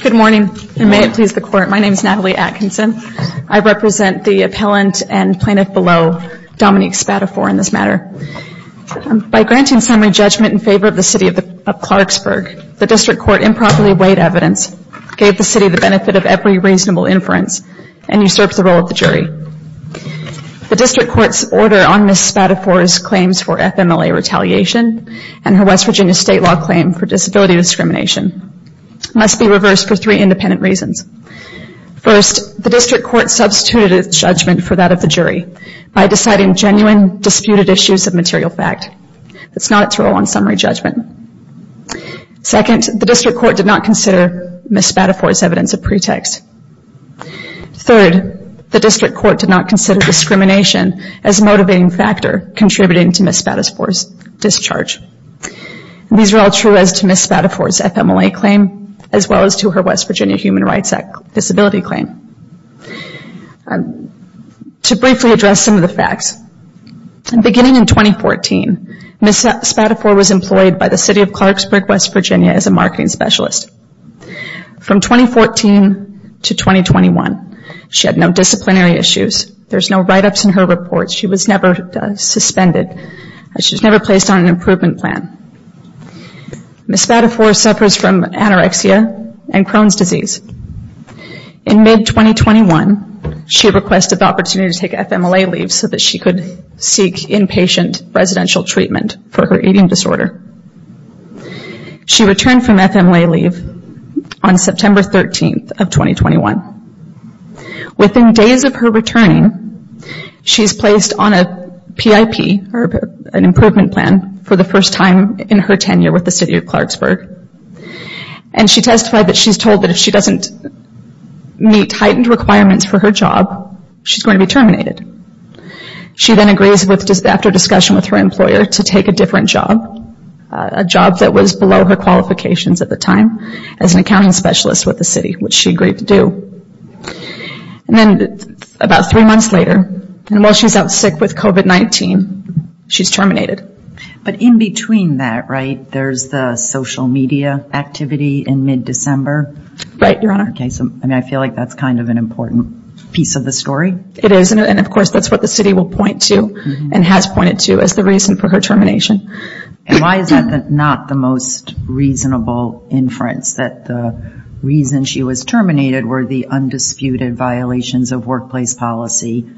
Good morning, and may it please the Court, my name is Natalie Atkinson. I represent the appellant and plaintiff below, Dominique Spatafore in this matter. By granting summary judgment in favor of the City of Clarksburg, the District Court improperly weighed evidence, gave the City the benefit of every reasonable inference, and usurped the role of the jury. The District Court's order on Ms. Spatafore's claims for FMLA retaliation and her West Virginia State claim for disability discrimination must be reversed for three independent reasons. First, the District Court substituted its judgment for that of the jury by deciding genuine disputed issues of material fact. That's not its role on summary judgment. Second, the District Court did not consider Ms. Spatafore's evidence a pretext. Third, the District Court did not consider discrimination as a motivating factor contributing to Ms. Spatafore's discharge. These are all true as to Ms. Spatafore's FMLA claim as well as to her West Virginia Human Rights Act disability claim. To briefly address some of the facts, beginning in 2014, Ms. Spatafore was employed by the City of Clarksburg, West Virginia as a marketing specialist. From 2014 to 2021, she had no disciplinary issues. There's no write-ups in her reports. She was never suspended. She was never placed on an improvement plan. Ms. Spatafore suffers from anorexia and Crohn's disease. In mid-2021, she requested the opportunity to take FMLA leave so that she could seek inpatient residential treatment for her eating disorder. She returned from FMLA leave on September 13th of 2021. Within days of her returning, she was placed on a PIP, or an improvement plan, for the first time in her tenure with the City of Clarksburg. She testified that she's told that if she doesn't meet heightened requirements for her job, she's going to be terminated. She then agrees after discussion with her employer to take a different job, a job that was below her qualifications at the time, as an accounting specialist with the City, which she agreed to do. About three months later, while she's out sick with COVID-19, she's terminated. But in between that, right, there's the social media activity in mid-December? Right, Your Honor. Okay, so I mean, I feel like that's kind of an important piece of the story. It is, and of course, that's what the City will point to and has pointed to as the reason for her termination. And why is that not the most reasonable inference, that the reason she was terminated were the undisputed violations of workplace policy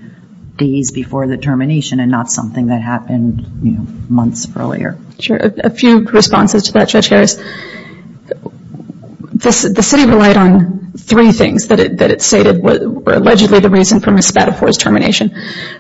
days before the termination and not something that happened months earlier? Sure, a few responses to that, Judge Harris. The City relied on three things that it stated were allegedly the reason for Ms. Spadafore's termination.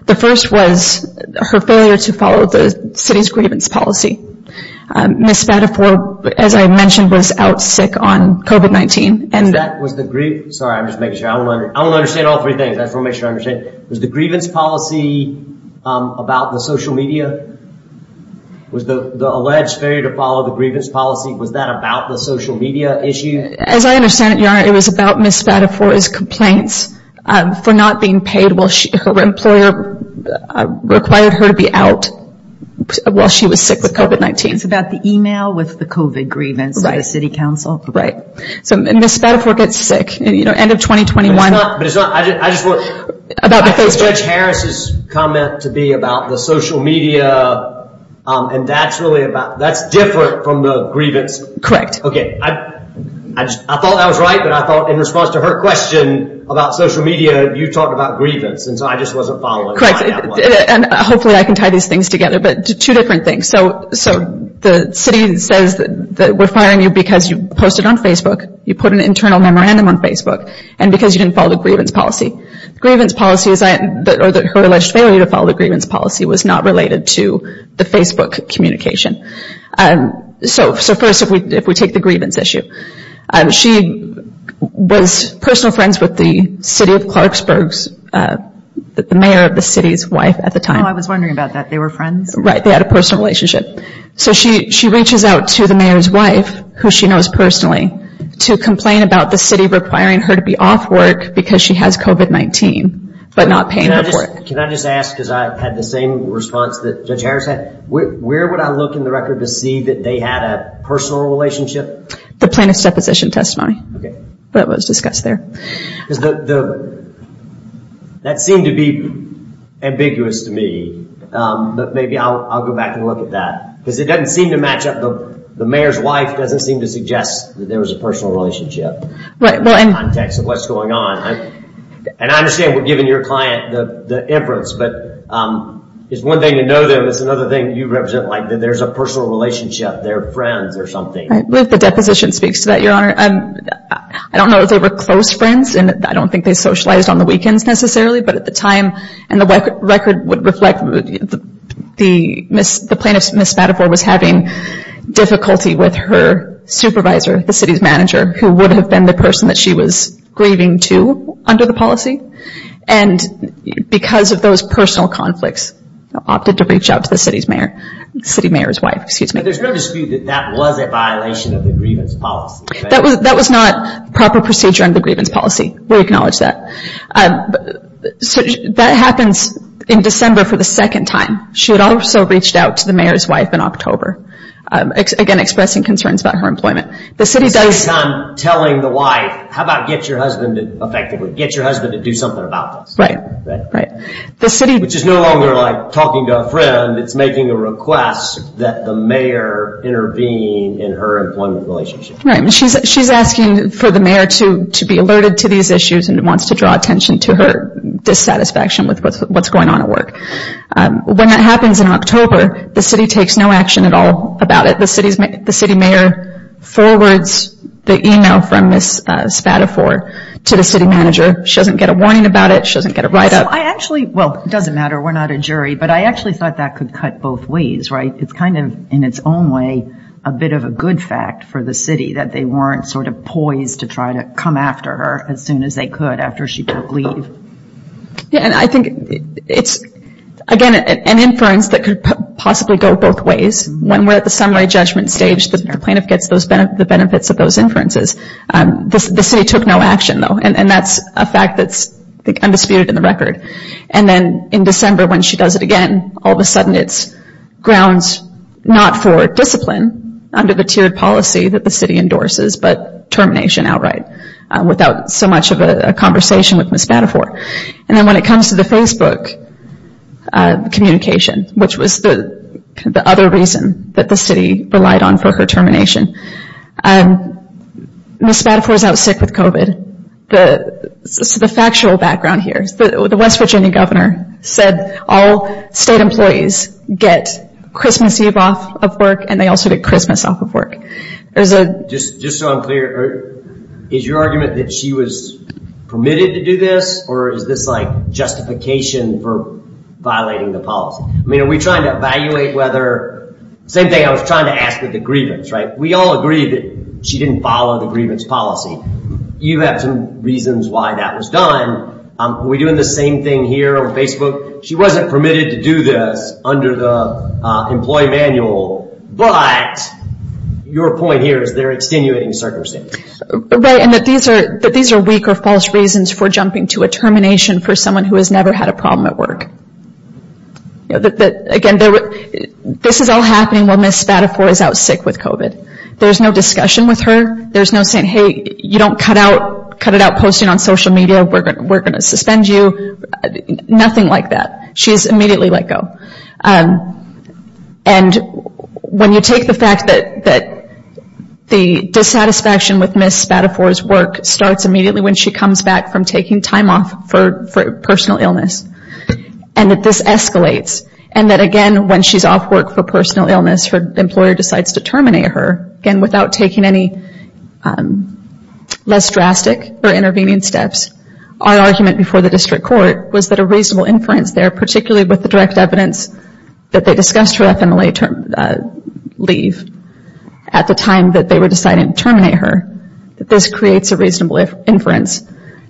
The first was her failure to follow the City's grievance policy. Ms. Spadafore, as I mentioned, was out sick on COVID-19. Was that, was the grievance... Sorry, I'm just making sure. I want to understand all three things. I just want to make sure I understand. Was the grievance policy about the social media? Was the alleged failure to follow the grievance policy, was that about the social media issue? As I understand it, Your Honor, it was about Ms. Spadafore's complaints for not being paid while her employer required her to be out while she was sick with COVID-19. It's about the email with the COVID grievance to the City Council. Right. Ms. Spadafore gets sick, end of 2021. But it's not, I just want... I think Judge Harris' comment to be about the social media, and that's really about, that's different from the grievance. Correct. Okay. I thought that was right, but I thought in response to her question about social media, you talked about grievance, and so I just wasn't following. Correct, and hopefully I can tie these things together, but two different things. The city says that we're firing you because you posted on Facebook, you put an internal memorandum on Facebook, and because you didn't follow the grievance policy. Grievance policy, or her alleged failure to follow the grievance policy was not related to the Facebook communication. So first, if we take the grievance issue. She was personal friends with the City of Clarksburg's, the mayor of the city's wife at the time. Oh, I was wondering about that. They were friends? Right, they had a personal relationship. So she reaches out to the mayor's wife, who she knows personally, to complain about the city requiring her to be off work because she has COVID-19, but not paying her for it. Can I just ask, because I had the same response that Judge Harris had, where would I look in the record to see that they had a personal relationship? The plaintiff's deposition testimony. That was discussed there. That seemed to be ambiguous to me, but maybe I'll go back and look at that. Because it doesn't seem to match up, the mayor's wife doesn't seem to suggest that there was a personal relationship in the context of what's going on. And I understand we're giving your client the inference, but it's one thing to know them, it's another thing you represent, like there's a personal relationship, they're friends or something. I believe the deposition speaks to that, Your Honor. I don't know if they were close friends, and I don't think they socialized on the weekends necessarily, but at the time, and the record would reflect, the plaintiff, Ms. Spadafore, was having difficulty with her supervisor, the city's manager, who would have been the person that she was grieving to under the policy. And because of those personal conflicts, opted to reach out to the city's mayor, city mayor's wife, excuse me. But there's no dispute that that was a violation of the grievance policy. That was not proper procedure under the grievance policy. We acknowledge that. That happens in December for the second time. She had also reached out to the mayor's wife in October. Again expressing concerns about her employment. The city does... So instead of telling the wife, how about get your husband to effectively, get your husband to do something about this. Right, right. Which is no longer like talking to a friend. It's making a request that the mayor intervene in her employment relationship. Right, and she's asking for the mayor to be alerted to these issues and wants to draw attention to her dissatisfaction with what's going on at work. When that happens in October, the city takes no action at all about it. The city mayor forwards the email from Ms. Spadafore to the city manager. She doesn't get a warning about it. She doesn't get a write up. So I actually, well it doesn't matter, we're not a jury, but I actually thought that could cut both ways, right? It's kind of in its own way a bit of a good fact for the city that they weren't sort of poised to try to come after her as soon as they could after she took leave. Yeah, and I think it's again an inference that could possibly go both ways. When we're at the summary judgment stage, the plaintiff gets the benefits of those inferences. The city took no action though, and that's a fact that's undisputed in the record. And then in December when she does it again, all of a sudden it's grounds not for discipline under the tiered policy that the city endorses, but termination outright without so much of a conversation with Ms. Spadafore. And then when it comes to the Facebook communication, which was the other reason that the city relied on for her termination, Ms. Spadafore's out sick with COVID. The factual background here, the West Virginia governor said all state employees get Christmas Eve off of work, and they also get Christmas off of work. Just so I'm clear, is your argument that she was permitted to do this, or is this like justification for violating the policy? I mean, are we trying to evaluate whether, same thing I was trying to ask with the grievance, right? We all agree that she didn't follow the grievance policy. You have some reasons why that was done. Are we doing the same thing here on Facebook? She wasn't permitted to do this under the employee manual, but your point here is they're extenuating circumstances. Right, and that these are weak or false reasons for jumping to a termination for someone who has never had a problem at work. Again, this is all happening when Ms. Spadafore is out sick with COVID. There's no discussion with her. There's no saying, hey, you don't cut out posting on social media, we're going to suspend you. Nothing like that. She's immediately let go. And when you take the fact that the dissatisfaction with Ms. Spadafore's work starts immediately when she comes back from taking time off for personal illness, and that this escalates, and that again, when she's off work for personal illness, her employer decides to terminate her, again, without taking any less drastic or intervening steps. Our argument before the district court was that a reasonable inference there, particularly with the direct evidence that they discussed her FMLA leave at the time that they were deciding to terminate her, that this creates a reasonable inference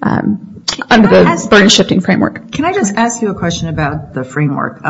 under the burden shifting framework. Can I just ask you a question about the framework?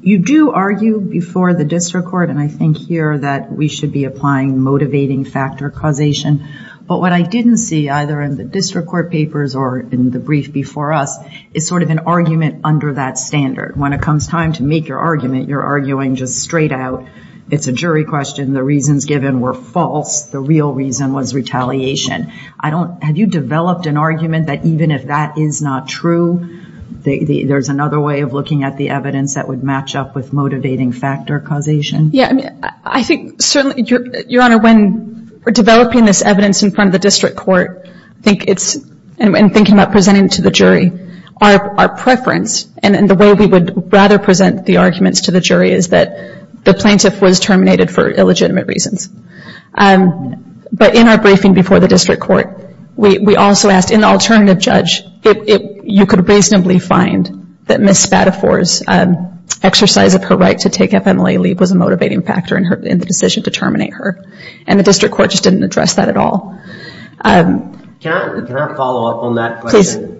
You do argue before the district court, and I think here that we should be applying motivating factor causation. But what I didn't see either in the district court papers or in the brief before us is sort of an argument under that standard. When it comes time to make your argument, you're arguing just straight out. It's a jury question. The reasons given were false. The real reason was retaliation. Have you developed an argument that even if that is not true, there's another way of looking at the evidence that would match up with motivating factor causation? Yeah. I mean, I think certainly, Your Honor, when we're developing this evidence in front of the district court, I think it's, in thinking about presenting it to the jury, our preference and the way we would rather present the arguments to the jury is that the plaintiff was terminated for illegitimate reasons. But in our briefing before the district court, we also asked, in the alternative judge, you could reasonably find that Ms. Spadafore's exercise of her right to take FMLA leave was a motivating factor in the decision to terminate her. And the district court just didn't address that at all. Can I follow up on that question?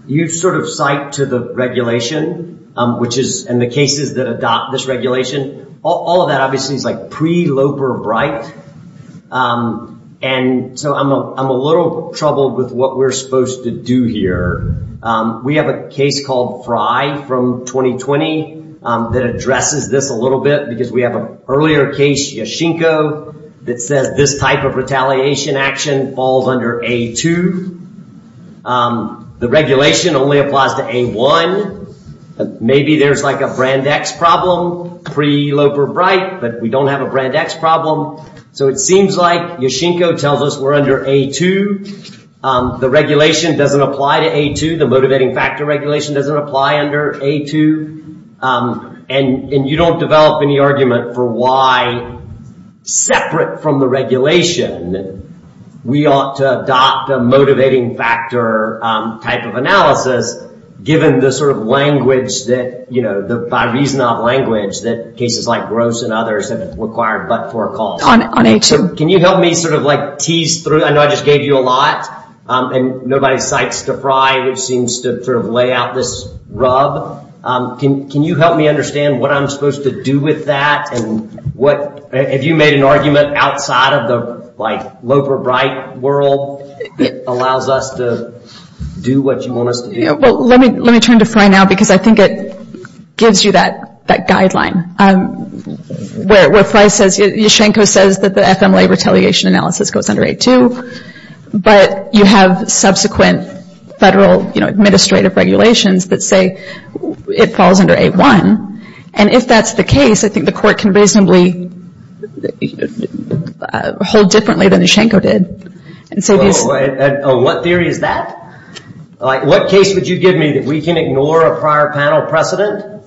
You sort of cite to the regulation, which is, and the cases that adopt this regulation, all of that obviously is like pre-Loper-Bright. And so I'm a little troubled with what we're supposed to do here. We have a case called Fry from 2020 that addresses this a little bit because we have an earlier case, Yashinko, that says that this type of retaliation action falls under A2. The regulation only applies to A1. Maybe there's like a brand X problem pre-Loper-Bright, but we don't have a brand X problem. So it seems like Yashinko tells us we're under A2. The regulation doesn't apply to A2. The motivating factor regulation doesn't apply under A2. And you don't develop any argument for why separate from the regulation, we ought to adopt a motivating factor type of analysis given the sort of language that, you know, by reason of language that cases like Gross and others have required but for a cause. Can you help me sort of like tease through? I know I just gave you a lot and nobody cites to Fry, which seems to sort of lay out this rub. Can you help me understand what I'm supposed to do with that? And what, have you made an argument outside of the like Loper-Bright world that allows us to do what you want us to do? Well, let me turn to Fry now because I think it gives you that guideline. Where Fry says, Yashinko says that the FMLA retaliation analysis goes under A2, but you have subsequent federal administrative regulations that say it falls under A1. And if that's the case, I think the court can reasonably hold differently than Yashinko did. What theory is that? What case would you give me that we can ignore a prior panel precedent?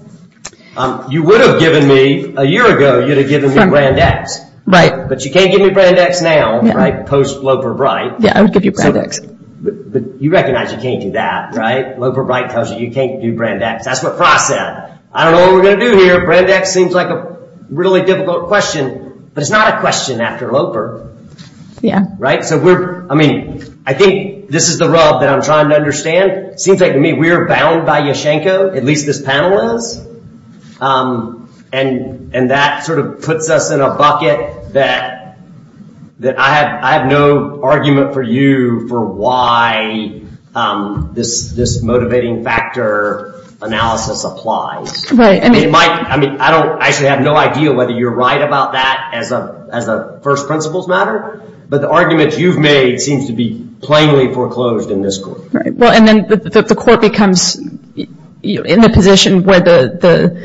You would have given me, a year ago, you would have given me Brand X. But you can't give me Brand X now, right, post Loper-Bright. Yeah, I would give you Brand X. But you recognize you can't do that, right? Loper-Bright tells you you can't do Brand X. That's what Fry said. I don't know what we're going to do here. Brand X seems like a really difficult question, but it's not a question after Loper. Yeah. Right. So we're, I mean, I think this is the rub that I'm trying to understand. Seems like to me we're bound by Yashinko, at least this panel is. And that sort of puts us in a bucket that I have no argument for you for why this motivating factor analysis applies. Right. I mean, I actually have no idea whether you're right about that as a first principles matter. But the argument you've made seems to be plainly foreclosed in this court. Right. Well, and then the court becomes in the position where the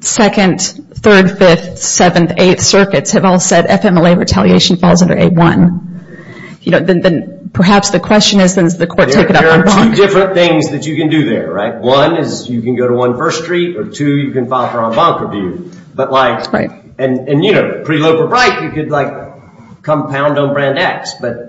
second, third, fifth, seventh, eighth circuits have all said FMLA retaliation falls under A1. You know, then perhaps the question is, does the court take it up on Bonk? There are two different things that you can do there, right? One is you can go to 1 First Street, or two, you can file for on Bonk review. But like, and you know, pre-Loper-Bright, you could like compound on Brand X, but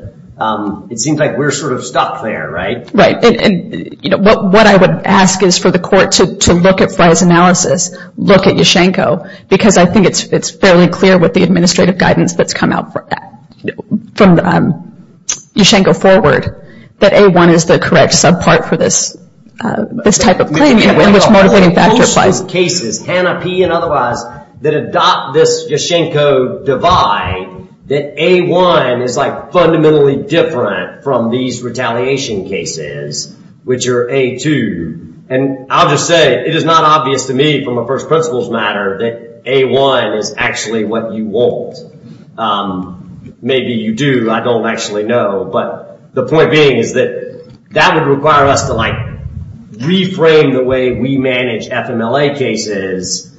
it seems like we're sort of stuck there, right? Right. And you know, what I would ask is for the court to look at Fry's analysis, look at Yashinko, because I think it's fairly clear with the administrative guidance that's come out from Yashinko forward, that A1 is the correct subpart for this, this type of claim, in which motivating factor applies. The cases, Hannah P and otherwise, that adopt this Yashinko divide, that A1 is like fundamentally different from these retaliation cases, which are A2. And I'll just say, it is not obvious to me from a first principles matter that A1 is actually what you want. Maybe you do, I don't actually know. But the point being is that that would require us to like reframe the way we manage FMLA cases,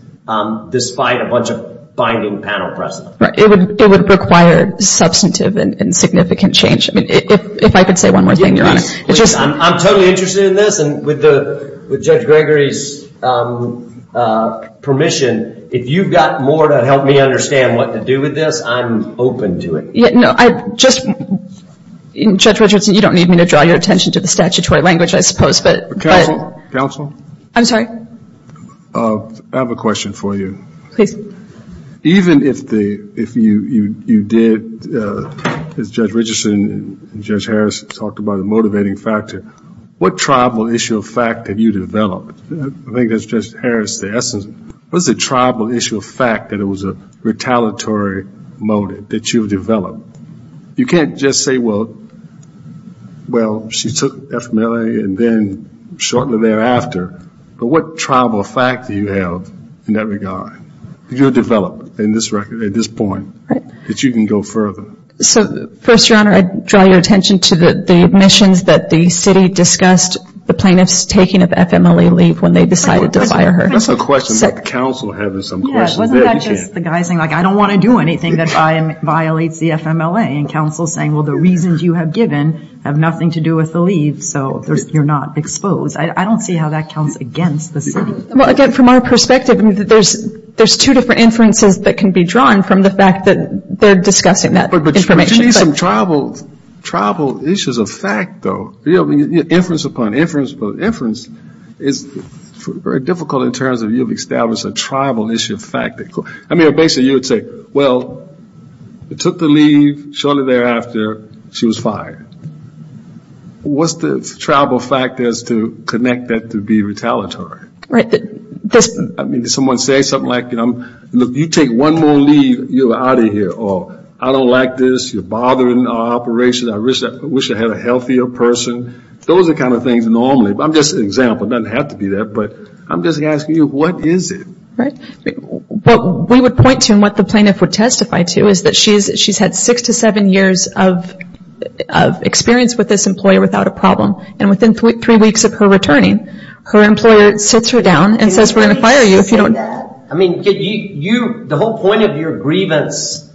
despite a bunch of binding panel precedent. It would require substantive and significant change. I mean, if I could say one more thing, Your Honor. I'm totally interested in this, and with Judge Gregory's permission, if you've got more to help me understand what to do with this, I'm open to it. Yeah, no, I just, Judge Richardson, you don't need me to draw your attention to the statutory language, I suppose, but. Counsel? Counsel? I'm sorry? I have a question for you. Please. Even if you did, as Judge Richardson and Judge Harris talked about the motivating factor, what tribal issue of fact have you developed? I think that's Judge Harris, the essence. What is the tribal issue of fact that it was a retaliatory motive that you've developed? You can't just say, well, she took FMLA and then shortly thereafter. But what tribal fact do you have in that regard that you've developed at this point that you can go further? So, first, Your Honor, I'd draw your attention to the admissions that the city discussed the plaintiff's taking of FMLA leave when they decided to fire her. That's a question that the counsel had as some questions. Yeah, wasn't that just the guy saying, like, I don't want to do anything that violates the FMLA? And counsel's saying, well, the reasons you have given have nothing to do with the leave, so you're not exposed. I don't see how that counts against the city. Well, again, from our perspective, I mean, there's two different inferences that can be drawn from the fact that they're discussing that information. But you need some tribal issues of fact, though. Inference upon inference upon inference is very difficult in terms of you've established a tribal issue of fact. I mean, basically, you would say, well, took the leave, shortly thereafter, she was fired. What's the tribal fact as to connect that to be retaliatory? I mean, did someone say something like, you know, you take one more leave, you're out of here, or I don't like this, you're bothering our operation, I wish I had a healthier person. Those are the kind of things normally. I'm just an example. It doesn't have to be that. But I'm just asking you, what is it? Right. What we would point to and what the plaintiff would testify to is that she's had six to seven years of experience with this employer without a problem. And within three weeks of her returning, her employer sits her down and says, we're going to fire you if you don't... I mean, the whole point of your grievance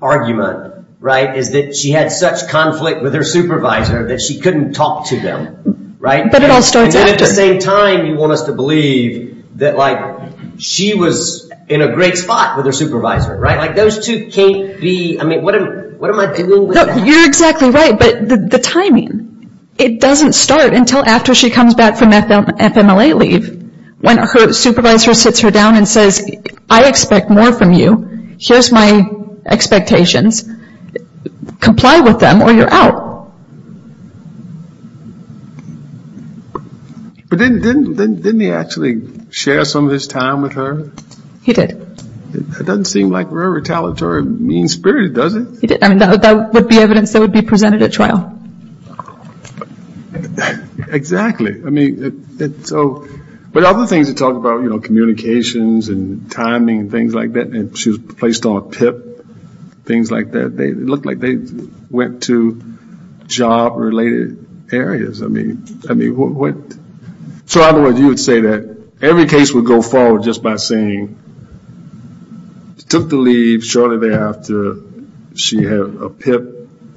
argument, right, is that she had such conflict with her supervisor that she couldn't talk to them, right? But it all starts after. And at the same time, you want us to believe that, like, she was in a great spot with her supervisor, right? Like, those two can't be... I mean, what am I doing with that? You're exactly right. But the timing, it doesn't start until after she comes back from FMLA leave, when her supervisor sits her down and says, I expect more from you. Here's my expectations. Comply with them or you're out. But didn't he actually share some of his time with her? He did. It doesn't seem like very retaliatory mean-spirited, does it? I mean, that would be evidence that would be presented at trial. Exactly. I mean, it's so... But other things you talk about, you know, communications and timing and things like that, and she was placed on a PIP, things like that. It looked like they went to job-related areas. I mean, what... So, otherwise, you would say that every case would go forward just by saying, took the leave shortly thereafter. She had a PIP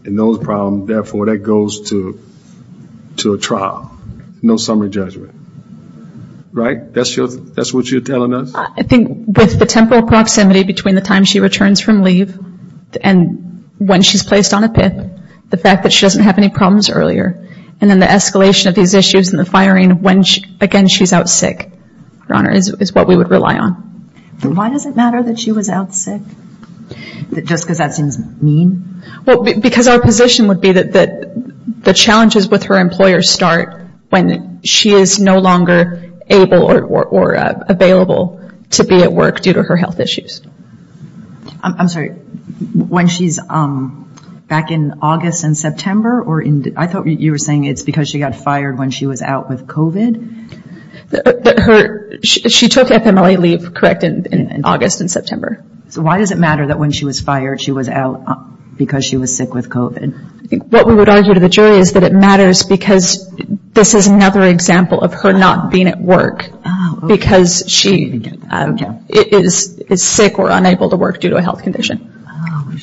and those problems. Therefore, that goes to a trial. No summary judgment. Right? That's what you're telling us? I think with the temporal proximity between the time she returns from leave and when she's placed on a PIP, the fact that she doesn't have any problems earlier, and then the escalation of these issues and the firing when, again, she's out sick, Your Honor, is what we would rely on. Why does it matter that she was out sick? Just because that seems mean? Well, because our position would be that the challenges with her employer start when she is no longer able or available to be at work due to her health issues. I'm sorry, when she's back in August and September, or I thought you were saying it's because she got fired when she was out with COVID? She took FMLA leave, correct, in August and September. So why does it matter that when she was fired, she was out because she was sick with COVID? What we would argue to the jury is that it matters because this is another example of her not being at work because she is sick or unable to work due to a health condition.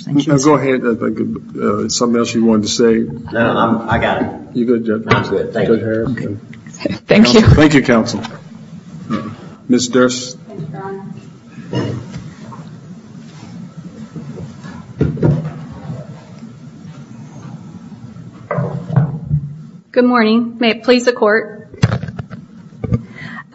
Go ahead. Something else you wanted to say? No, I got it. You're good, Judge. Thank you. Thank you, counsel. Ms. Durst? Good morning. May it please the Court?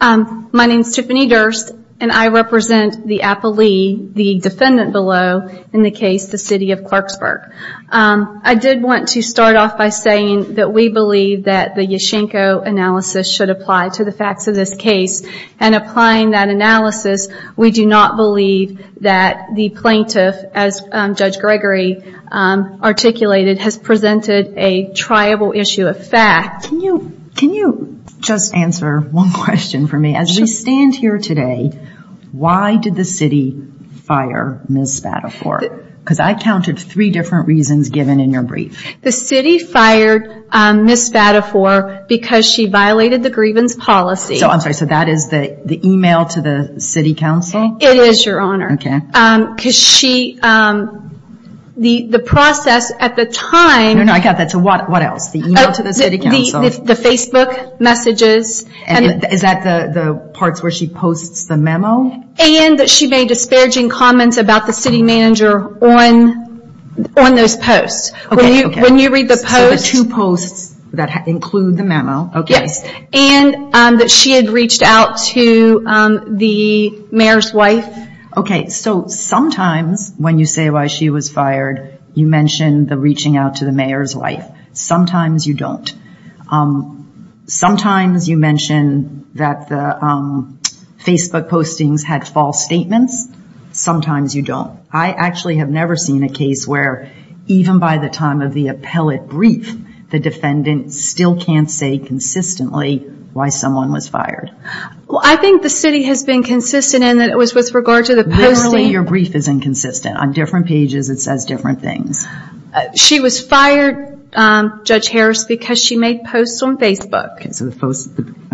My name is Tiffany Durst and I represent the appellee, the defendant below, in the case, the City of Clarksburg. I did want to start off by saying that we believe that the Yashenko analysis should apply to the facts of this case. And applying that analysis, we do not believe that the plaintiff, as Judge Gregory articulated, has presented a triable issue of fact. Can you just answer one question for me? As we stand here today, why did the city fire Ms. Spadafore? Because I counted three different reasons given in your brief. The city fired Ms. Spadafore because she violated the grievance policy. I'm sorry, so that is the email to the city council? It is, Your Honor. Because the process at the time... I got that. So what else? The email to the city council? The Facebook messages. Is that the parts where she posts the memo? And that she made disparaging comments about the city manager on those posts. Okay, okay. So the two posts that include the memo. Yes. And that she had reached out to the mayor's wife. Okay, so sometimes when you say why she was fired, you mention the reaching out to the mayor's wife. Sometimes you don't. Sometimes you mention that the Facebook postings had false statements. Sometimes you don't. I actually have never seen a case where even by the time of the appellate brief, the defendant still can't say consistently why someone was fired. Well, I think the city has been consistent in that it was with regard to the posting... Literally, your brief is inconsistent. On different pages, it says different things. She was fired, Judge Harris, because she made posts on Facebook.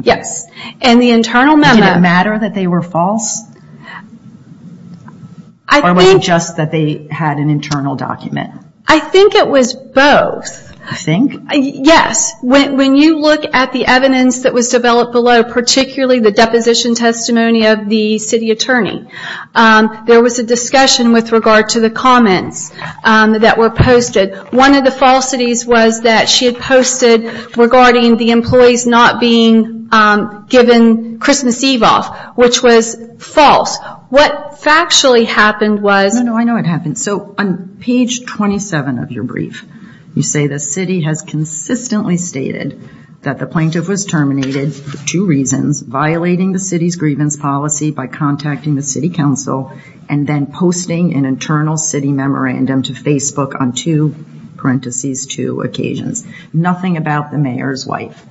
Yes. And the internal memo... Did it matter that they were false? Or was it just that they had an internal document? I think it was both. You think? Yes. When you look at the evidence that was developed below, particularly the deposition testimony of the city attorney, there was a discussion with regard to the comments that were posted. One of the falsities was that she had posted regarding the employees not being given Christmas Eve off, which was false. What factually happened was... No, no. I know what happened. So on page 27 of your brief, you say the city has consistently stated that the plaintiff was terminated for two reasons, violating the city's grievance policy by contacting the city council, and then posting an internal city memorandum to Facebook on two, parentheses, two occasions. Nothing about the mayor's wife.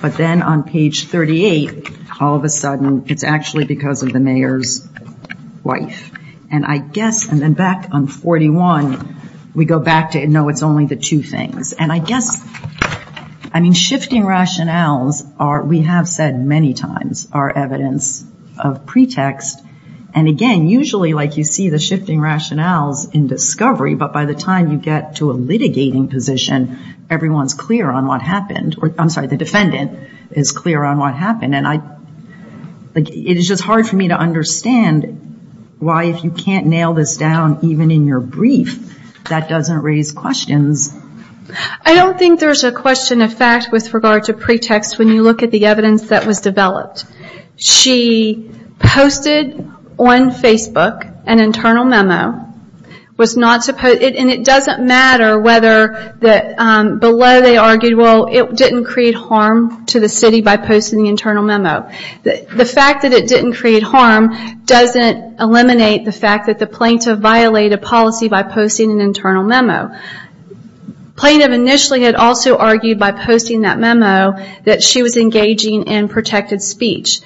But then on page 38, all of a sudden, it's actually because of the mayor's wife. And I guess... Back on 41, we go back to, no, it's only the two things. And I guess, I mean, shifting rationales are, we have said many times, are evidence of pretext. And again, usually, like you see the shifting rationales in discovery, but by the time you get to a litigating position, everyone's clear on what happened. I'm sorry, the defendant is clear on what happened. And it is just hard for me to understand why, if you can't nail this down, even in your brief, that doesn't raise questions. I don't think there's a question of fact with regard to pretext when you look at the evidence that was developed. She posted on Facebook an internal memo, and it doesn't matter whether below they argued, it didn't create harm to the city by posting the internal memo. The fact that it didn't create harm doesn't eliminate the fact that the plaintiff violated policy by posting an internal memo. Plaintiff initially had also argued by posting that memo that she was engaging in protected speech.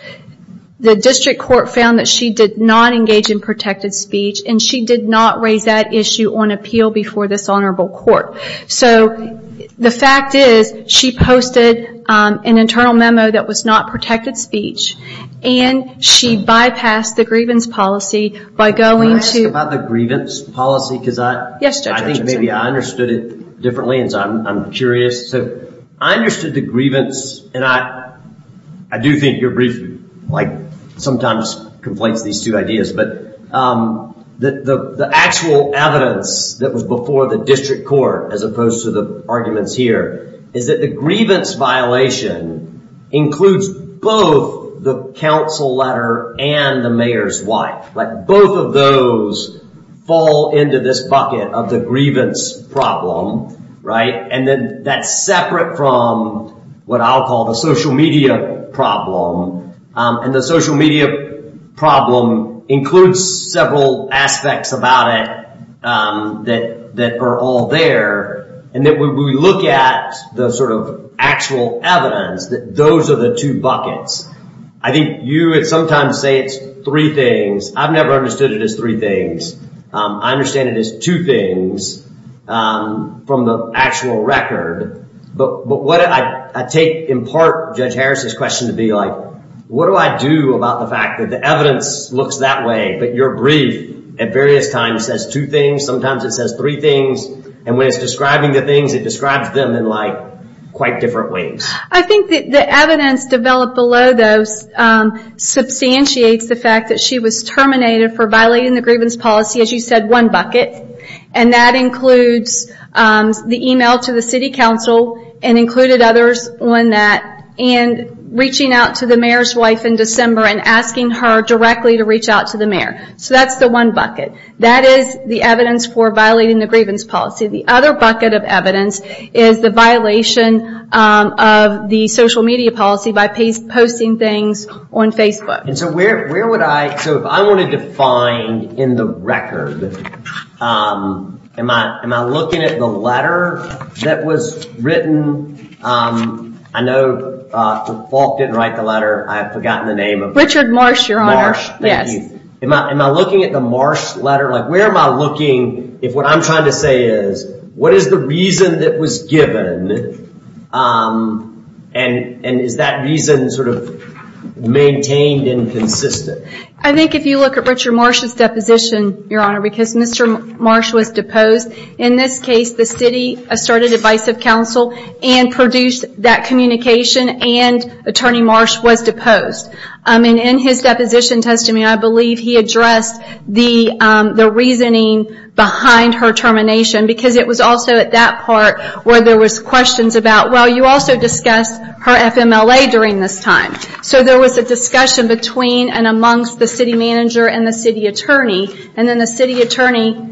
The district court found that she did not engage in protected speech, and she did not raise that issue on appeal before this honorable court. So the fact is, she posted an internal memo that was not protected speech, and she bypassed the grievance policy by going to... Can I ask about the grievance policy? Because I think maybe I understood it differently, and so I'm curious. I understood the grievance, and I do think your brief sometimes conflates these two ideas, but the actual evidence that was before the district court, as opposed to the arguments here, is that the grievance violation includes both the council letter and the mayor's wife. Like both of those fall into this bucket of the grievance problem, right? And then that's separate from what I'll call the social media problem. And the social media problem includes several aspects about it that are all there. And then when we look at the sort of actual evidence, those are the two buckets. I think you would sometimes say it's three things. I've never understood it as three things. I understand it as two things from the actual record. But I take in part Judge Harris's question to be like, what do I do about the fact that the evidence looks that way, but your brief at various times says two things. Sometimes it says three things. And when it's describing the things, it describes them in quite different ways. I think that the evidence developed below those substantiates the fact that she was terminated for violating the grievance policy, as you said, one bucket. And that includes the email to the city council and included others on that. And reaching out to the mayor's wife in December and asking her directly to reach out to the mayor. So that's the one bucket. That is the evidence for violating the grievance policy. The other bucket of evidence is the violation of the social media policy by posting things on Facebook. And so where would I... So if I wanted to find in the record, am I looking at the letter that was written? I know Falk didn't write the letter. I've forgotten the name of... Richard Marsh, Your Honor. Am I looking at the Marsh letter? Like, where am I looking if what I'm trying to say is, what is the reason that was given? And is that reason sort of maintained and consistent? I think if you look at Richard Marsh's deposition, Your Honor, because Mr. Marsh was deposed. In this case, the city asserted advice of council and produced that communication and Attorney Marsh was deposed. I mean, in his deposition testimony, I believe he addressed the reasoning behind her termination because it was also at that part where there was questions about, well, you also discussed her FMLA during this time. So there was a discussion between and amongst the city manager and the city attorney. And then the city attorney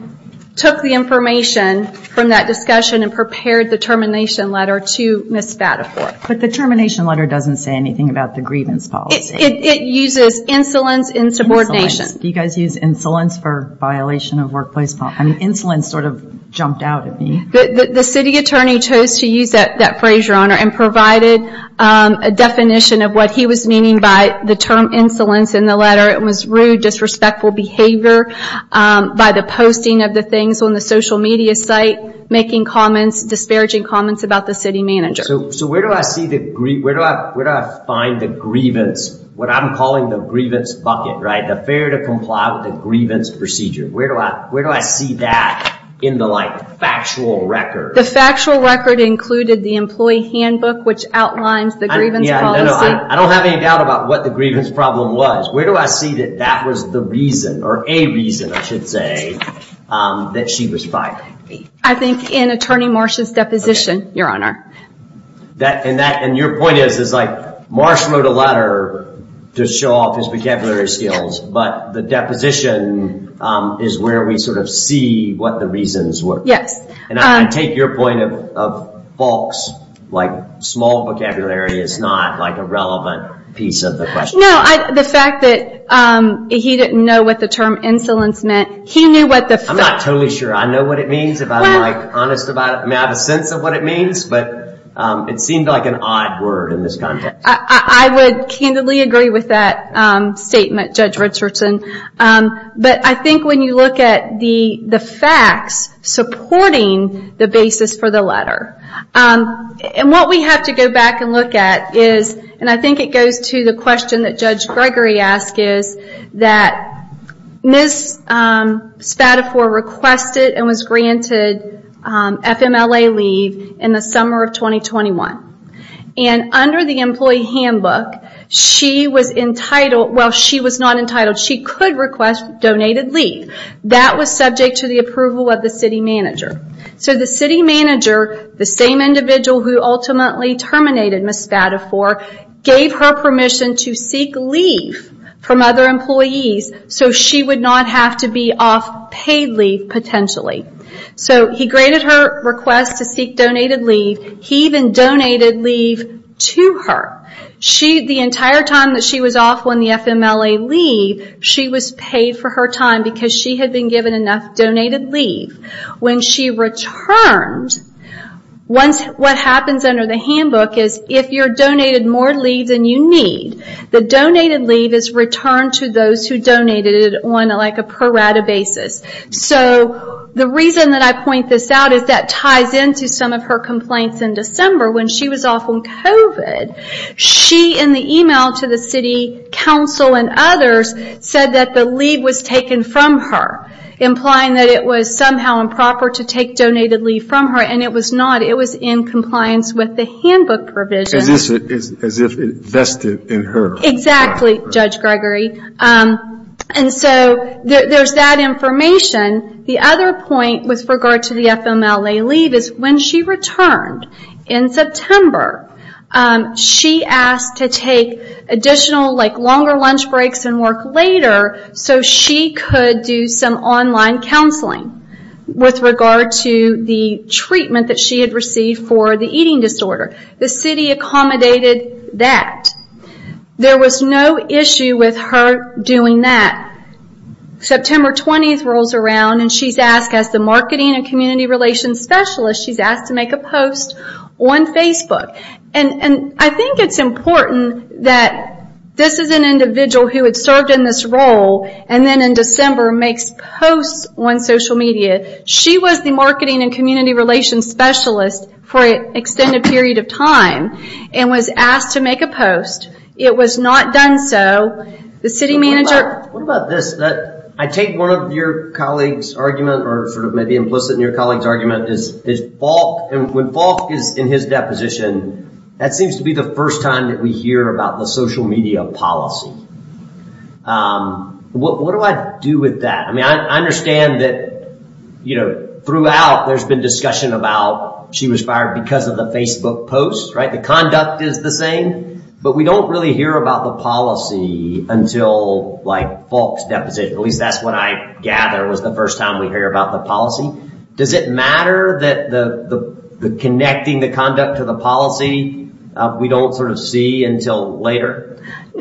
took the information from that discussion and prepared the termination letter to Ms. Spadafore. But the termination letter doesn't say anything about the grievance policy. It uses insolence and subordination. Do you guys use insolence for violation of workplace policy? Insolence sort of jumped out at me. The city attorney chose to use that phrase, Your Honor, and provided a definition of what he was meaning by the term insolence in the letter. It was rude, disrespectful behavior by the posting of the things on the social media site, making disparaging comments about the city manager. So where do I find the grievance? What I'm calling the grievance bucket, right? The fair to comply with the grievance procedure. Where do I see that in the factual record? The factual record included the employee handbook, which outlines the grievance policy. I don't have any doubt about what the grievance problem was. Where do I see that that was the reason, or a reason, I should say, that she was fighting me? I think in Attorney Marsh's deposition, Your Honor. And your point is, Marsh wrote a letter to show off his vocabulary skills, but the deposition is where we sort of see what the reasons were. And I take your point of Falk's small vocabulary is not a relevant piece of the question. No, the fact that he didn't know what the term insolence meant, he knew what the fact... I'm not totally sure I know what it means, if I'm honest about it. May I have a sense of what it means? But it seemed like an odd word in this context. I would candidly agree with that statement, Judge Richardson. But I think when you look at the facts supporting the basis for the letter, and what we have to go back and look at is, and I think it goes to the question that Judge Gregory asked, is that Ms. Spadafore requested and was granted FMLA leave in the summer of 2021. And under the employee handbook, she was entitled... Well, she was not entitled. She could request donated leave. That was subject to the approval of the city manager. So the city manager, the same individual who ultimately terminated Ms. Spadafore, gave her permission to seek leave from other employees so she would not have to be off paid leave potentially. So he granted her request to seek donated leave. He even donated leave to her. The entire time that she was off on the FMLA leave, she was paid for her time because she had been given enough donated leave. When she returned, what happens under the handbook is, if you're donated more leave than you need, the donated leave is returned to those who donated it on like a per-rata basis. So the reason that I point this out is that ties into some of her complaints in December when she was off on COVID. She, in the email to the city council and others, said that the leave was taken from her, implying that it was somehow improper to take donated leave from her. And it was not. It was in compliance with the handbook provision. Is this as if it vested in her? Exactly, Judge Gregory. And so there's that information. The other point with regard to the FMLA leave is when she returned in September, she asked to take additional, like longer lunch breaks and work later so she could do some online counseling with regard to the treatment that she had received for the eating disorder. The city accommodated that. There was no issue with her doing that. September 20th rolls around and she's asked as the marketing and community relations specialist, she's asked to make a post on Facebook. And I think it's important that this is an individual who had served in this role and then in December makes posts on social media. She was the marketing and community relations specialist for an extended period of time and was asked to make a post. It was not done so. The city manager- What about this? I take one of your colleagues' argument or sort of maybe implicit in your colleagues' argument is Falk and when Falk is in his deposition, that seems to be the first time that we hear about the social media policy. What do I do with that? I mean, I understand that throughout there's been discussion about she was fired because of the Facebook post, right? The conduct is the same but we don't really hear about the policy until like Falk's deposition. At least that's what I gather was the first time we hear about the policy. Does it matter that connecting the conduct to the policy we don't sort of see until later?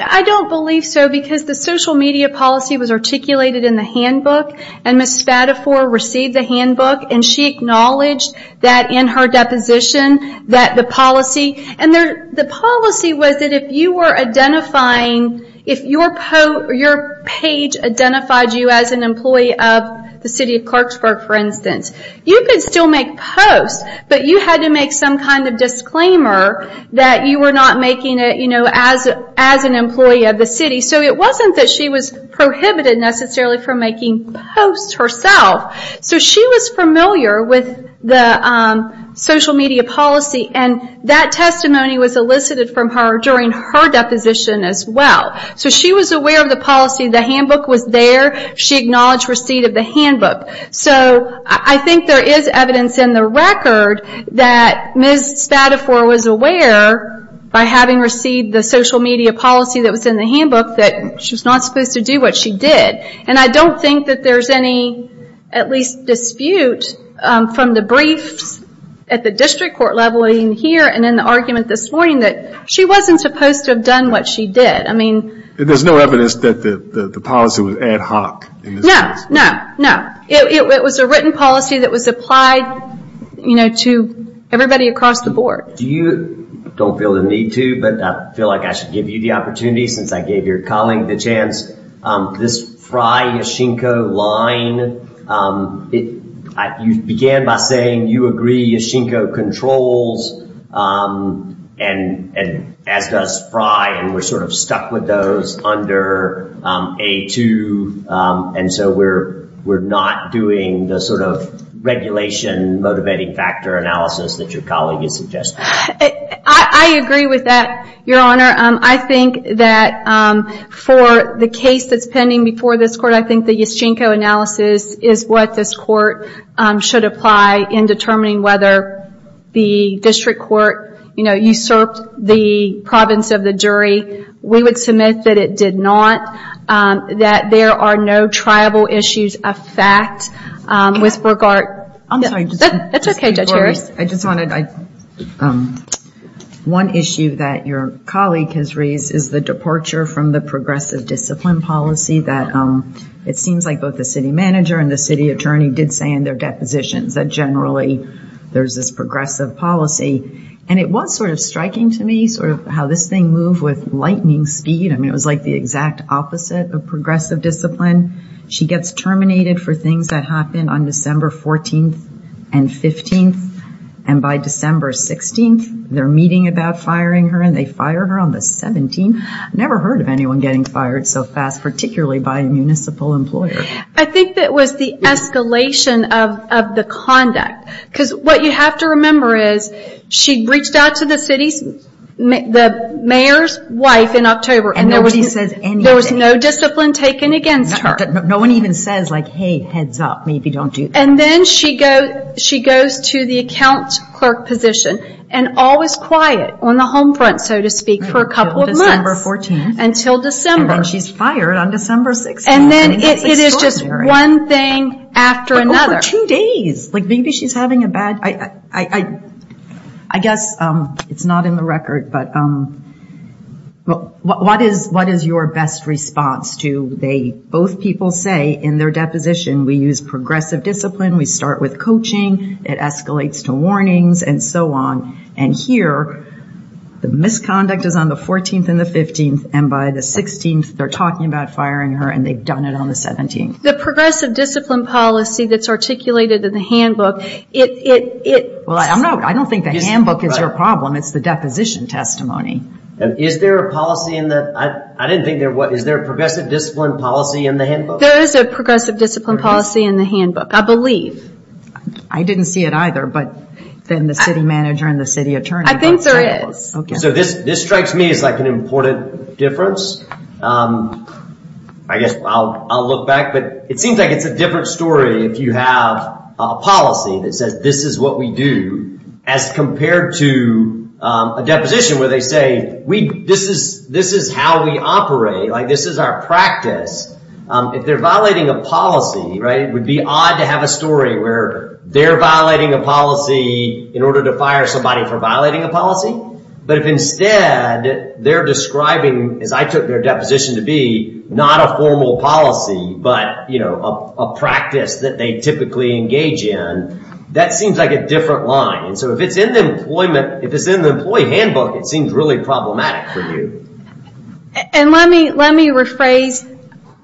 I don't believe so because the social media policy was articulated in the handbook and Ms. Spadafore received the handbook and she acknowledged that in her deposition that the policy, and the policy was that if you were identifying if your page identified you as an employee of the city of Clarksburg for instance, you could still make posts but you had to make some kind of disclaimer that you were not making it as an employee of the city. So it wasn't that she was prohibited necessarily from making posts herself. So she was familiar with the social media policy and that testimony was elicited from her during her deposition as well. So she was aware of the policy, the handbook was there, she acknowledged receipt of the handbook. So I think there is evidence in the record that Ms. Spadafore was aware by having received the social media policy that was in the handbook that she was not supposed to do what she did and I don't think that there's any at least dispute from the briefs at the district court level in here and in the argument this morning that she wasn't supposed to have done what she did. I mean... There's no evidence that the policy was ad hoc? No, no, no. It was a written policy that was applied to everybody across the board. Do you, don't feel the need to but I feel like I should give you the opportunity since I gave your colleague the chance, this Fry-Yashinko line, you began by saying you agree Yashinko controls and as does Fry and we're sort of stuck with those under A2 and so we're not doing the sort of regulation motivating factor analysis that your colleague is suggesting. I agree with that, Your Honor. I think that for the case that's pending before this court, I think the Yashinko analysis is what this court should apply in determining whether the district court usurped the province of the jury. We would submit that it did not, that there are no tribal issues of fact with regard... I'm sorry. It's okay, Judge Harris. I just wanted... One issue that your colleague has raised is the departure from the progressive discipline policy that it seems like both the city manager and the city attorney did say in their depositions that generally there's this progressive policy and it was sort of striking to me sort of how this thing moved with lightning speed. I mean, it was like the exact opposite of progressive discipline. She gets terminated for things that happen on December 14th and 15th and by December 16th, they're meeting about firing her and they fire her on the 17th. I never heard of anyone getting fired so fast, particularly by a municipal employer. I think that was the escalation of the conduct because what you have to remember is she reached out to the mayor's wife in October and there was no discipline taken against her. No one even says like, hey, heads up, maybe don't do this. And then she goes to the account clerk position and always quiet on the home front, so to speak, for a couple of months until December. And she's fired on December 16th. And then it is just one thing after another. But over two days. Like, maybe she's having a bad... I guess it's not in the record, but what is your best response to they, both people say in their deposition, we use progressive discipline, we start with coaching, it escalates to warnings and so on. And here, the misconduct is on the 14th and the 15th and by the 16th, they're talking about firing her and they've done it on the 17th. The progressive discipline policy that's articulated in the handbook, it... Well, I don't think the handbook is your problem. It's the deposition testimony. And is there a policy in that? I didn't think there was. Is there a progressive discipline policy in the handbook? There is a progressive discipline policy in the handbook. I believe. I didn't see it either, but then the city manager and the city attorney... I think there is. So this strikes me as like an important difference. I guess I'll look back, but it seems like it's a different story if you have a policy that says, this is what we do as compared to a deposition where they say, this is how we operate. Like this is our practice. If they're violating a policy, right? It would be odd to have a story where they're violating a policy in order to fire somebody for violating a policy. But if instead they're describing, as I took their deposition to be, not a formal policy, but a practice that they typically engage in, that seems like a different line. And so if it's in the employment, if it's in the employee handbook, it seems really problematic for you. And let me rephrase.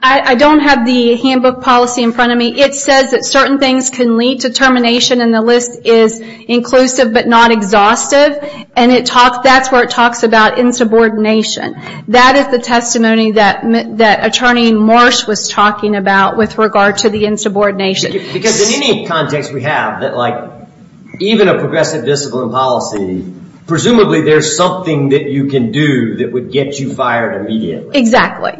I don't have the handbook policy in front of me. It says that certain things can lead to termination and the list is inclusive, but not exhaustive. And that's where it talks about insubordination. That is the testimony that attorney Morris was talking about with regard to the insubordination. Because in any context we have, even a progressive discipline policy, presumably there's something that you can do that would get you fired immediately. Exactly.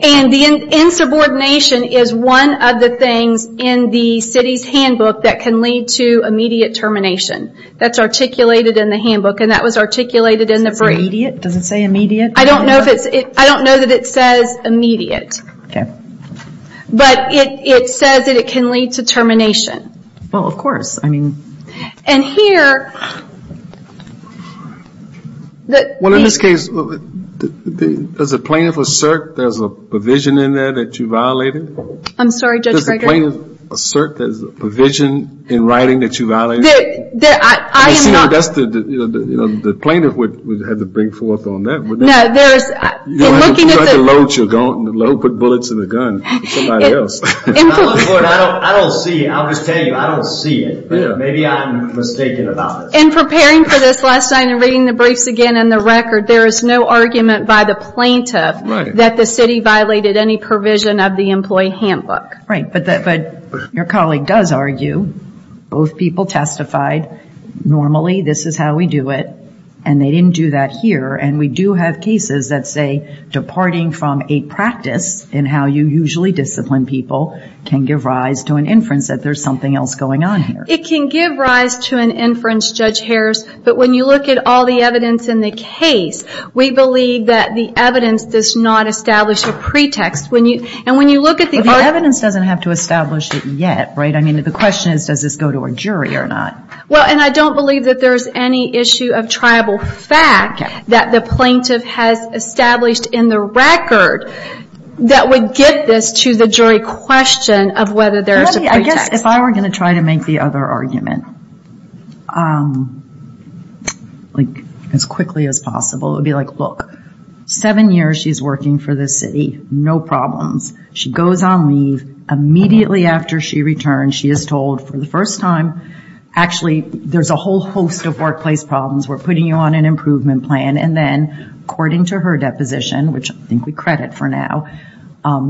And the insubordination is one of the things in the city's handbook that can lead to immediate termination. That's articulated in the handbook. And that was articulated in the brief. Does it say immediate? I don't know if it's, I don't know that it says immediate. But it says that it can lead to termination. Well, of course, I mean... And here... Well, in this case, does the plaintiff assert there's a provision in there that you violated? I'm sorry, Judge Gregory? Does the plaintiff assert there's a provision in writing that you violated? That I am not... That's the, you know, the plaintiff would have to bring forth on that. No, there's... You don't have to load your gun, put bullets in the gun for somebody else. I don't see it. I'll just tell you, I don't see it. Maybe I'm mistaken about this. In preparing for this last night and reading the briefs again and the record, there is no argument by the plaintiff that the city violated any provision of the employee handbook. Right, but your colleague does argue both people testified normally, this is how we do it, and they didn't do that here. And we do have cases that say departing from a practice in how you usually discipline people can give rise to an inference that there's something else going on here. It can give rise to an inference, Judge Harris, but when you look at all the evidence in the case, we believe that the evidence does not establish a pretext. And when you look at the... The evidence doesn't have to establish it yet, right? The question is, does this go to a jury or not? Well, and I don't believe that there's any issue of tribal fact that the plaintiff has established in the record that would get this to the jury question of whether there's a pretext. If I were going to try to make the other argument, like as quickly as possible, it would be like, look, seven years she's working for this city, no problems. She goes on leave, immediately after she returns, she is told for the first time, actually, there's a whole host of workplace problems. We're putting you on an improvement plan. And then according to her deposition, which I think we credit for now,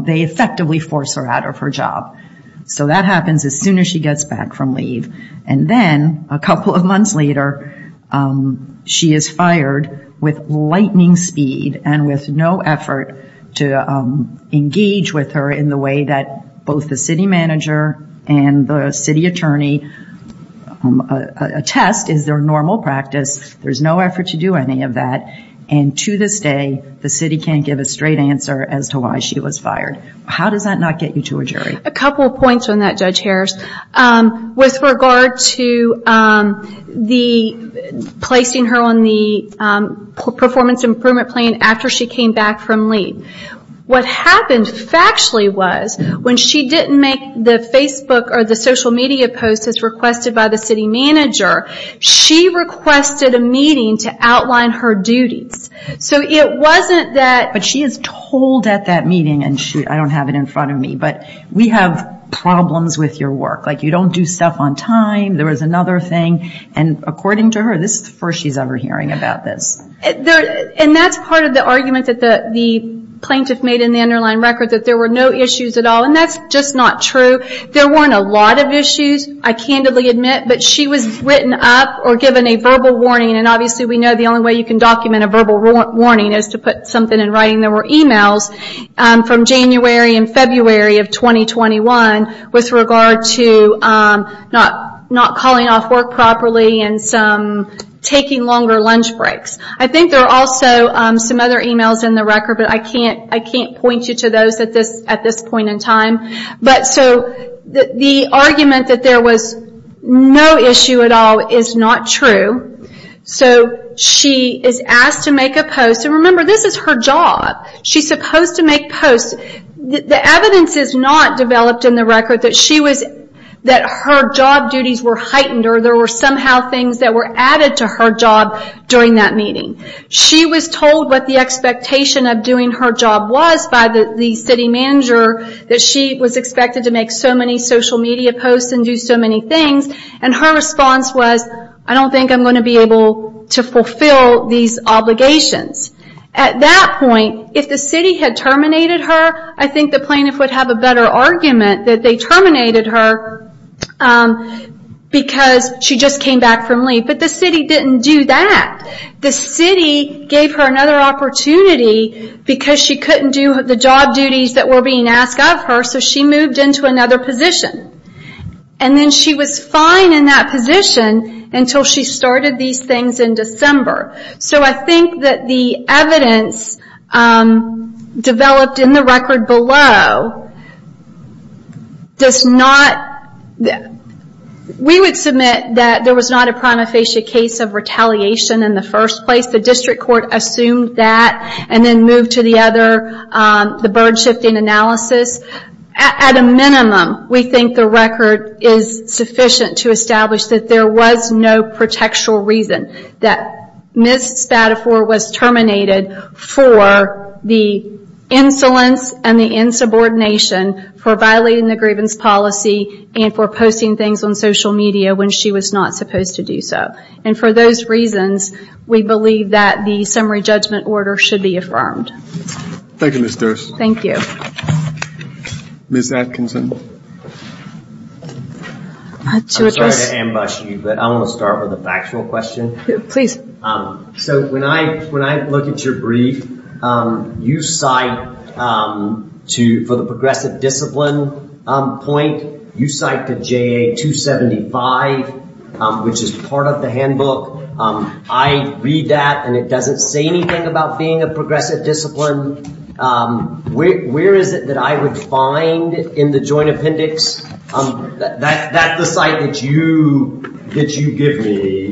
they effectively force her out of her job. So that happens as soon as she gets back from leave. And then a couple of months later, she is fired with lightning speed and with no effort to engage with her in the way that both the city manager and the city attorney attest is their normal practice. There's no effort to do any of that. And to this day, the city can't give a straight answer as to why she was fired. How does that not get you to a jury? A couple of points on that, Judge Harris. With regard to placing her on the performance improvement plan after she came back from leave. What happened factually was when she didn't make the Facebook or the social media posts as requested by the city manager, she requested a meeting to outline her duties. So it wasn't that... But she is told at that meeting, and shoot, I don't have it in front of me, but we have problems with your work. You don't do stuff on time. There was another thing. And according to her, this is the first she's ever hearing about this. And that's part of the argument that the plaintiff made in the underlying record that there were no issues at all. And that's just not true. There weren't a lot of issues, I candidly admit, but she was written up or given a verbal warning. And obviously we know the only way you can document a verbal warning is to put something in writing. There were emails from January and February of 2021 with regard to not calling off work properly and some taking longer lunch breaks. I think there are also some other emails in the record, but I can't point you to those at this point in time. But so the argument that there was no issue at all is not true. So she is asked to make a post. And remember, this is her job. She's supposed to make posts. The evidence is not developed in the record that her job duties were heightened or there were somehow things that were added to her job during that meeting. She was told what the expectation of doing her job was by the city manager that she was expected to make so many social media posts and do so many things. And her response was, I don't think I'm going to be able to fulfill these obligations. At that point, if the city had terminated her, I think the plaintiff would have a better argument that they terminated her because she just came back from leave. But the city didn't do that. The city gave her another opportunity because she couldn't do the job duties that were being asked of her. So she moved into another position. And then she was fine in that position until she started these things in December. So I think that the evidence developed in the record below does not... We would submit that there was not a prima facie case of retaliation in the first place. The district court assumed that. And then moved to the other, the burden shifting analysis. At a minimum, we think the record is sufficient to establish that there was no protectural reason that Ms. Spadafore was terminated for the insolence and the insubordination for violating the grievance policy and for posting things on social media when she was not supposed to do so. And for those reasons, we believe that the summary judgment order should be affirmed. Thank you, Ms. Durst. Thank you. Ms. Atkinson. I'm sorry to ambush you, but I want to start with a factual question. Please. So when I look at your brief, you cite for the progressive discipline point, you cite the JA 275, which is part of the handbook. I read that and it doesn't say anything about being a progressive discipline. Where is it that I would find in the joint appendix, that the site that you give me,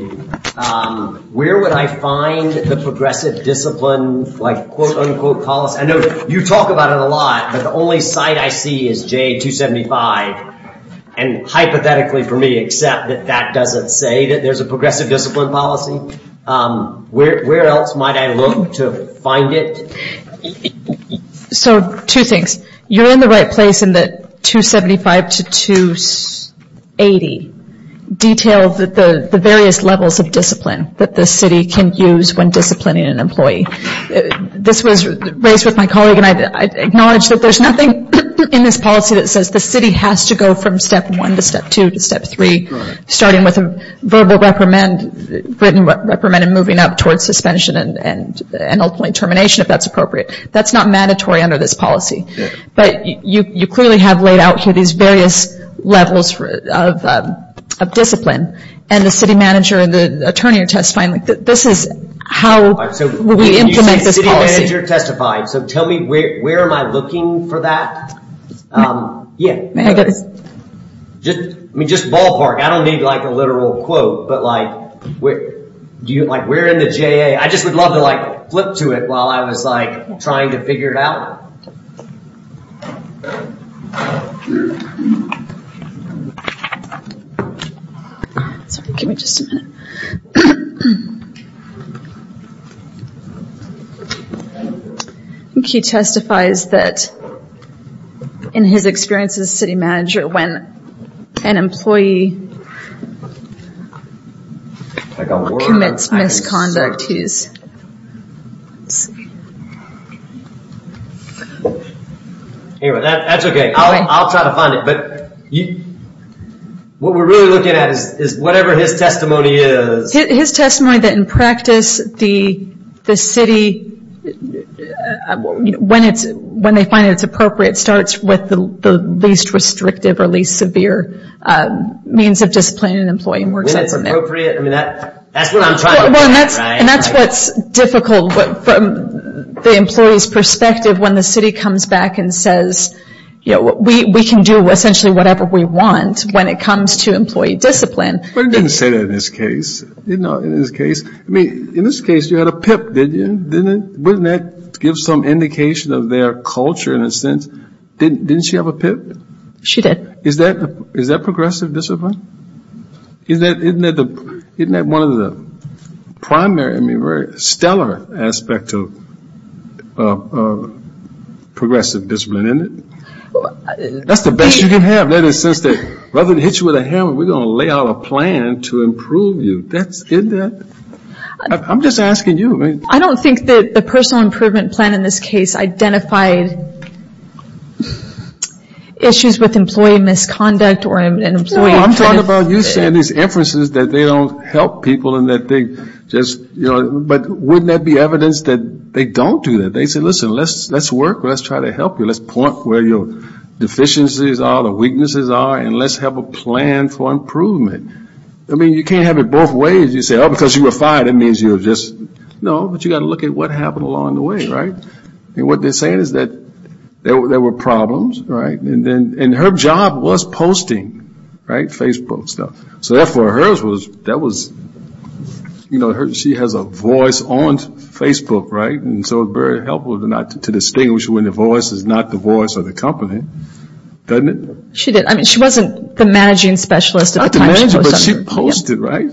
where would I find the progressive discipline, like quote unquote policy? I know you talk about it a lot, but the only site I see is JA 275. And hypothetically for me, except that that doesn't say that there's a progressive discipline policy. Where else might I look to find it? So two things, you're in the right place in that 275 to 280 detailed the various levels of discipline that the city can use when disciplining an employee. This was raised with my colleague and I acknowledge that there's nothing in this policy that says the city has to go from step one to step two to step three, starting with a verbal reprimand written reprimand and moving up towards suspension and ultimately termination if that's appropriate. That's not mandatory under this policy. But you clearly have laid out here these various levels of discipline and the city manager and the attorney are testifying. This is how we implement this policy. So tell me where am I looking for that? I mean, just ballpark, I don't need like a literal quote, but like, we're in the JA. I just would love to like flip to it while I was like trying to figure it out. He testifies that in his experience as city manager, when an employee commits misconduct, he's... Anyway, that's okay. I'll try to find it. But what we're really looking at is whatever his testimony is. His testimony that in practice, the city, when they find it, it's appropriate starts with the least restrictive or least severe means of disciplining an employee. And that's what's difficult from the employee's perspective when the city comes back and says, we can do essentially whatever we want when it comes to employee discipline. But it didn't say that in this case. You know, in this case, I mean, in this case, you had a PIP, didn't you? Didn't that give some indication of their culture in a sense? Didn't she have a PIP? She did. Is that progressive discipline? Isn't that one of the primary, I mean, very stellar aspect of progressive discipline, isn't it? That's the best you can have. That is, rather than hit you with a hammer, we're going to lay out a plan to improve you. I'm just asking you. I don't think that the personal improvement plan in this case identified issues with employee misconduct. Well, I'm talking about you saying these inferences that they don't help people and that they just, you know, but wouldn't that be evidence that they don't do that? They say, listen, let's work. Let's try to help you. Let's point where your deficiencies are, the weaknesses are, and let's have a plan for improvement. I mean, you can't have it both ways. You say, oh, because you were fired, it means you're just, no, but you got to look at what happened along the way, right? And what they're saying is that there were problems, right? And then, and her job was posting, right, Facebook stuff. So therefore, hers was, that was, you know, she has a voice on Facebook, right? And so it's very helpful not to distinguish when the voice is not the voice of the company, doesn't it? She did. I mean, she wasn't the managing specialist at the time she posted. But she posted, right?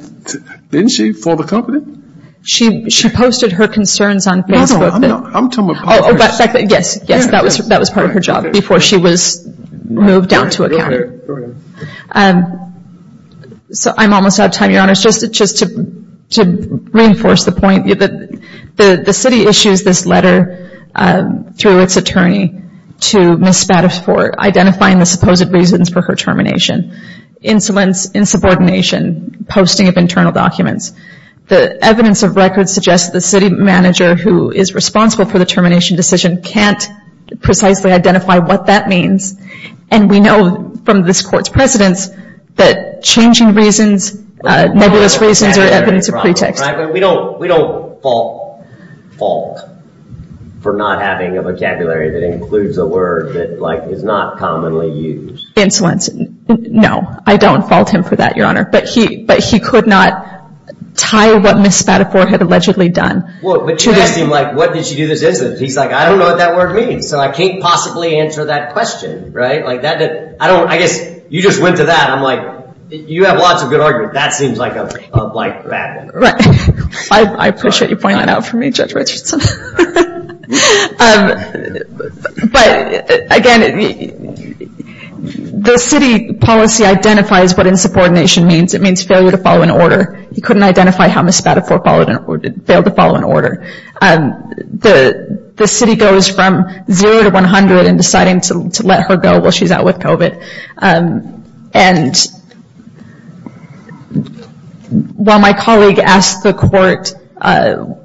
Didn't she, for the company? She posted her concerns on Facebook. No, I'm not, I'm talking about Yes, yes, that was, that was part of her job before she was moved down to a county. So I'm almost out of time, Your Honor, just to reinforce the point that the city issues this letter through its attorney to Ms. Spadafore, identifying the supposed reasons for her termination, insolence, insubordination, posting of internal documents. The evidence of records suggests the city manager who is responsible for the termination decision can't precisely identify what that means. And we know from this court's precedents that changing reasons, nebulous reasons are evidence of pretext. We don't, we don't fault, fault for not having a vocabulary that includes a word that like is not commonly used. Insolence. No, I don't fault him for that, Your Honor. But he, but he could not tie what Ms. Spadafore had allegedly done But you asked him like, what did she do this incident? He's like, I don't know what that word means. So I can't possibly answer that question, right? Like that, I don't, I guess you just went to that. I'm like, you have lots of good arguments. That seems like a bad one. Right. I appreciate you pointing that out for me, Judge Richardson. But again, the city policy identifies what insubordination means. It means failure to follow an order. He couldn't identify how Ms. Spadafore followed failed to follow an order. The city goes from zero to 100 and deciding to let her go while she's out with COVID. while my colleague asked the court,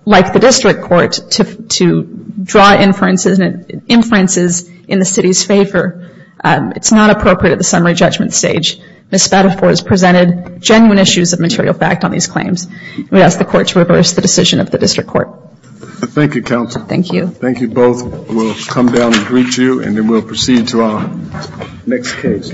like the district court to draw inferences and inferences in the city's favor. It's not appropriate at the summary judgment stage. Ms. Spadafore has presented genuine issues of material fact on these claims. We ask the court to reverse the decision of the district court. Thank you, counsel. Thank you. Thank you both. We'll come down and greet you and then we'll proceed to our next case.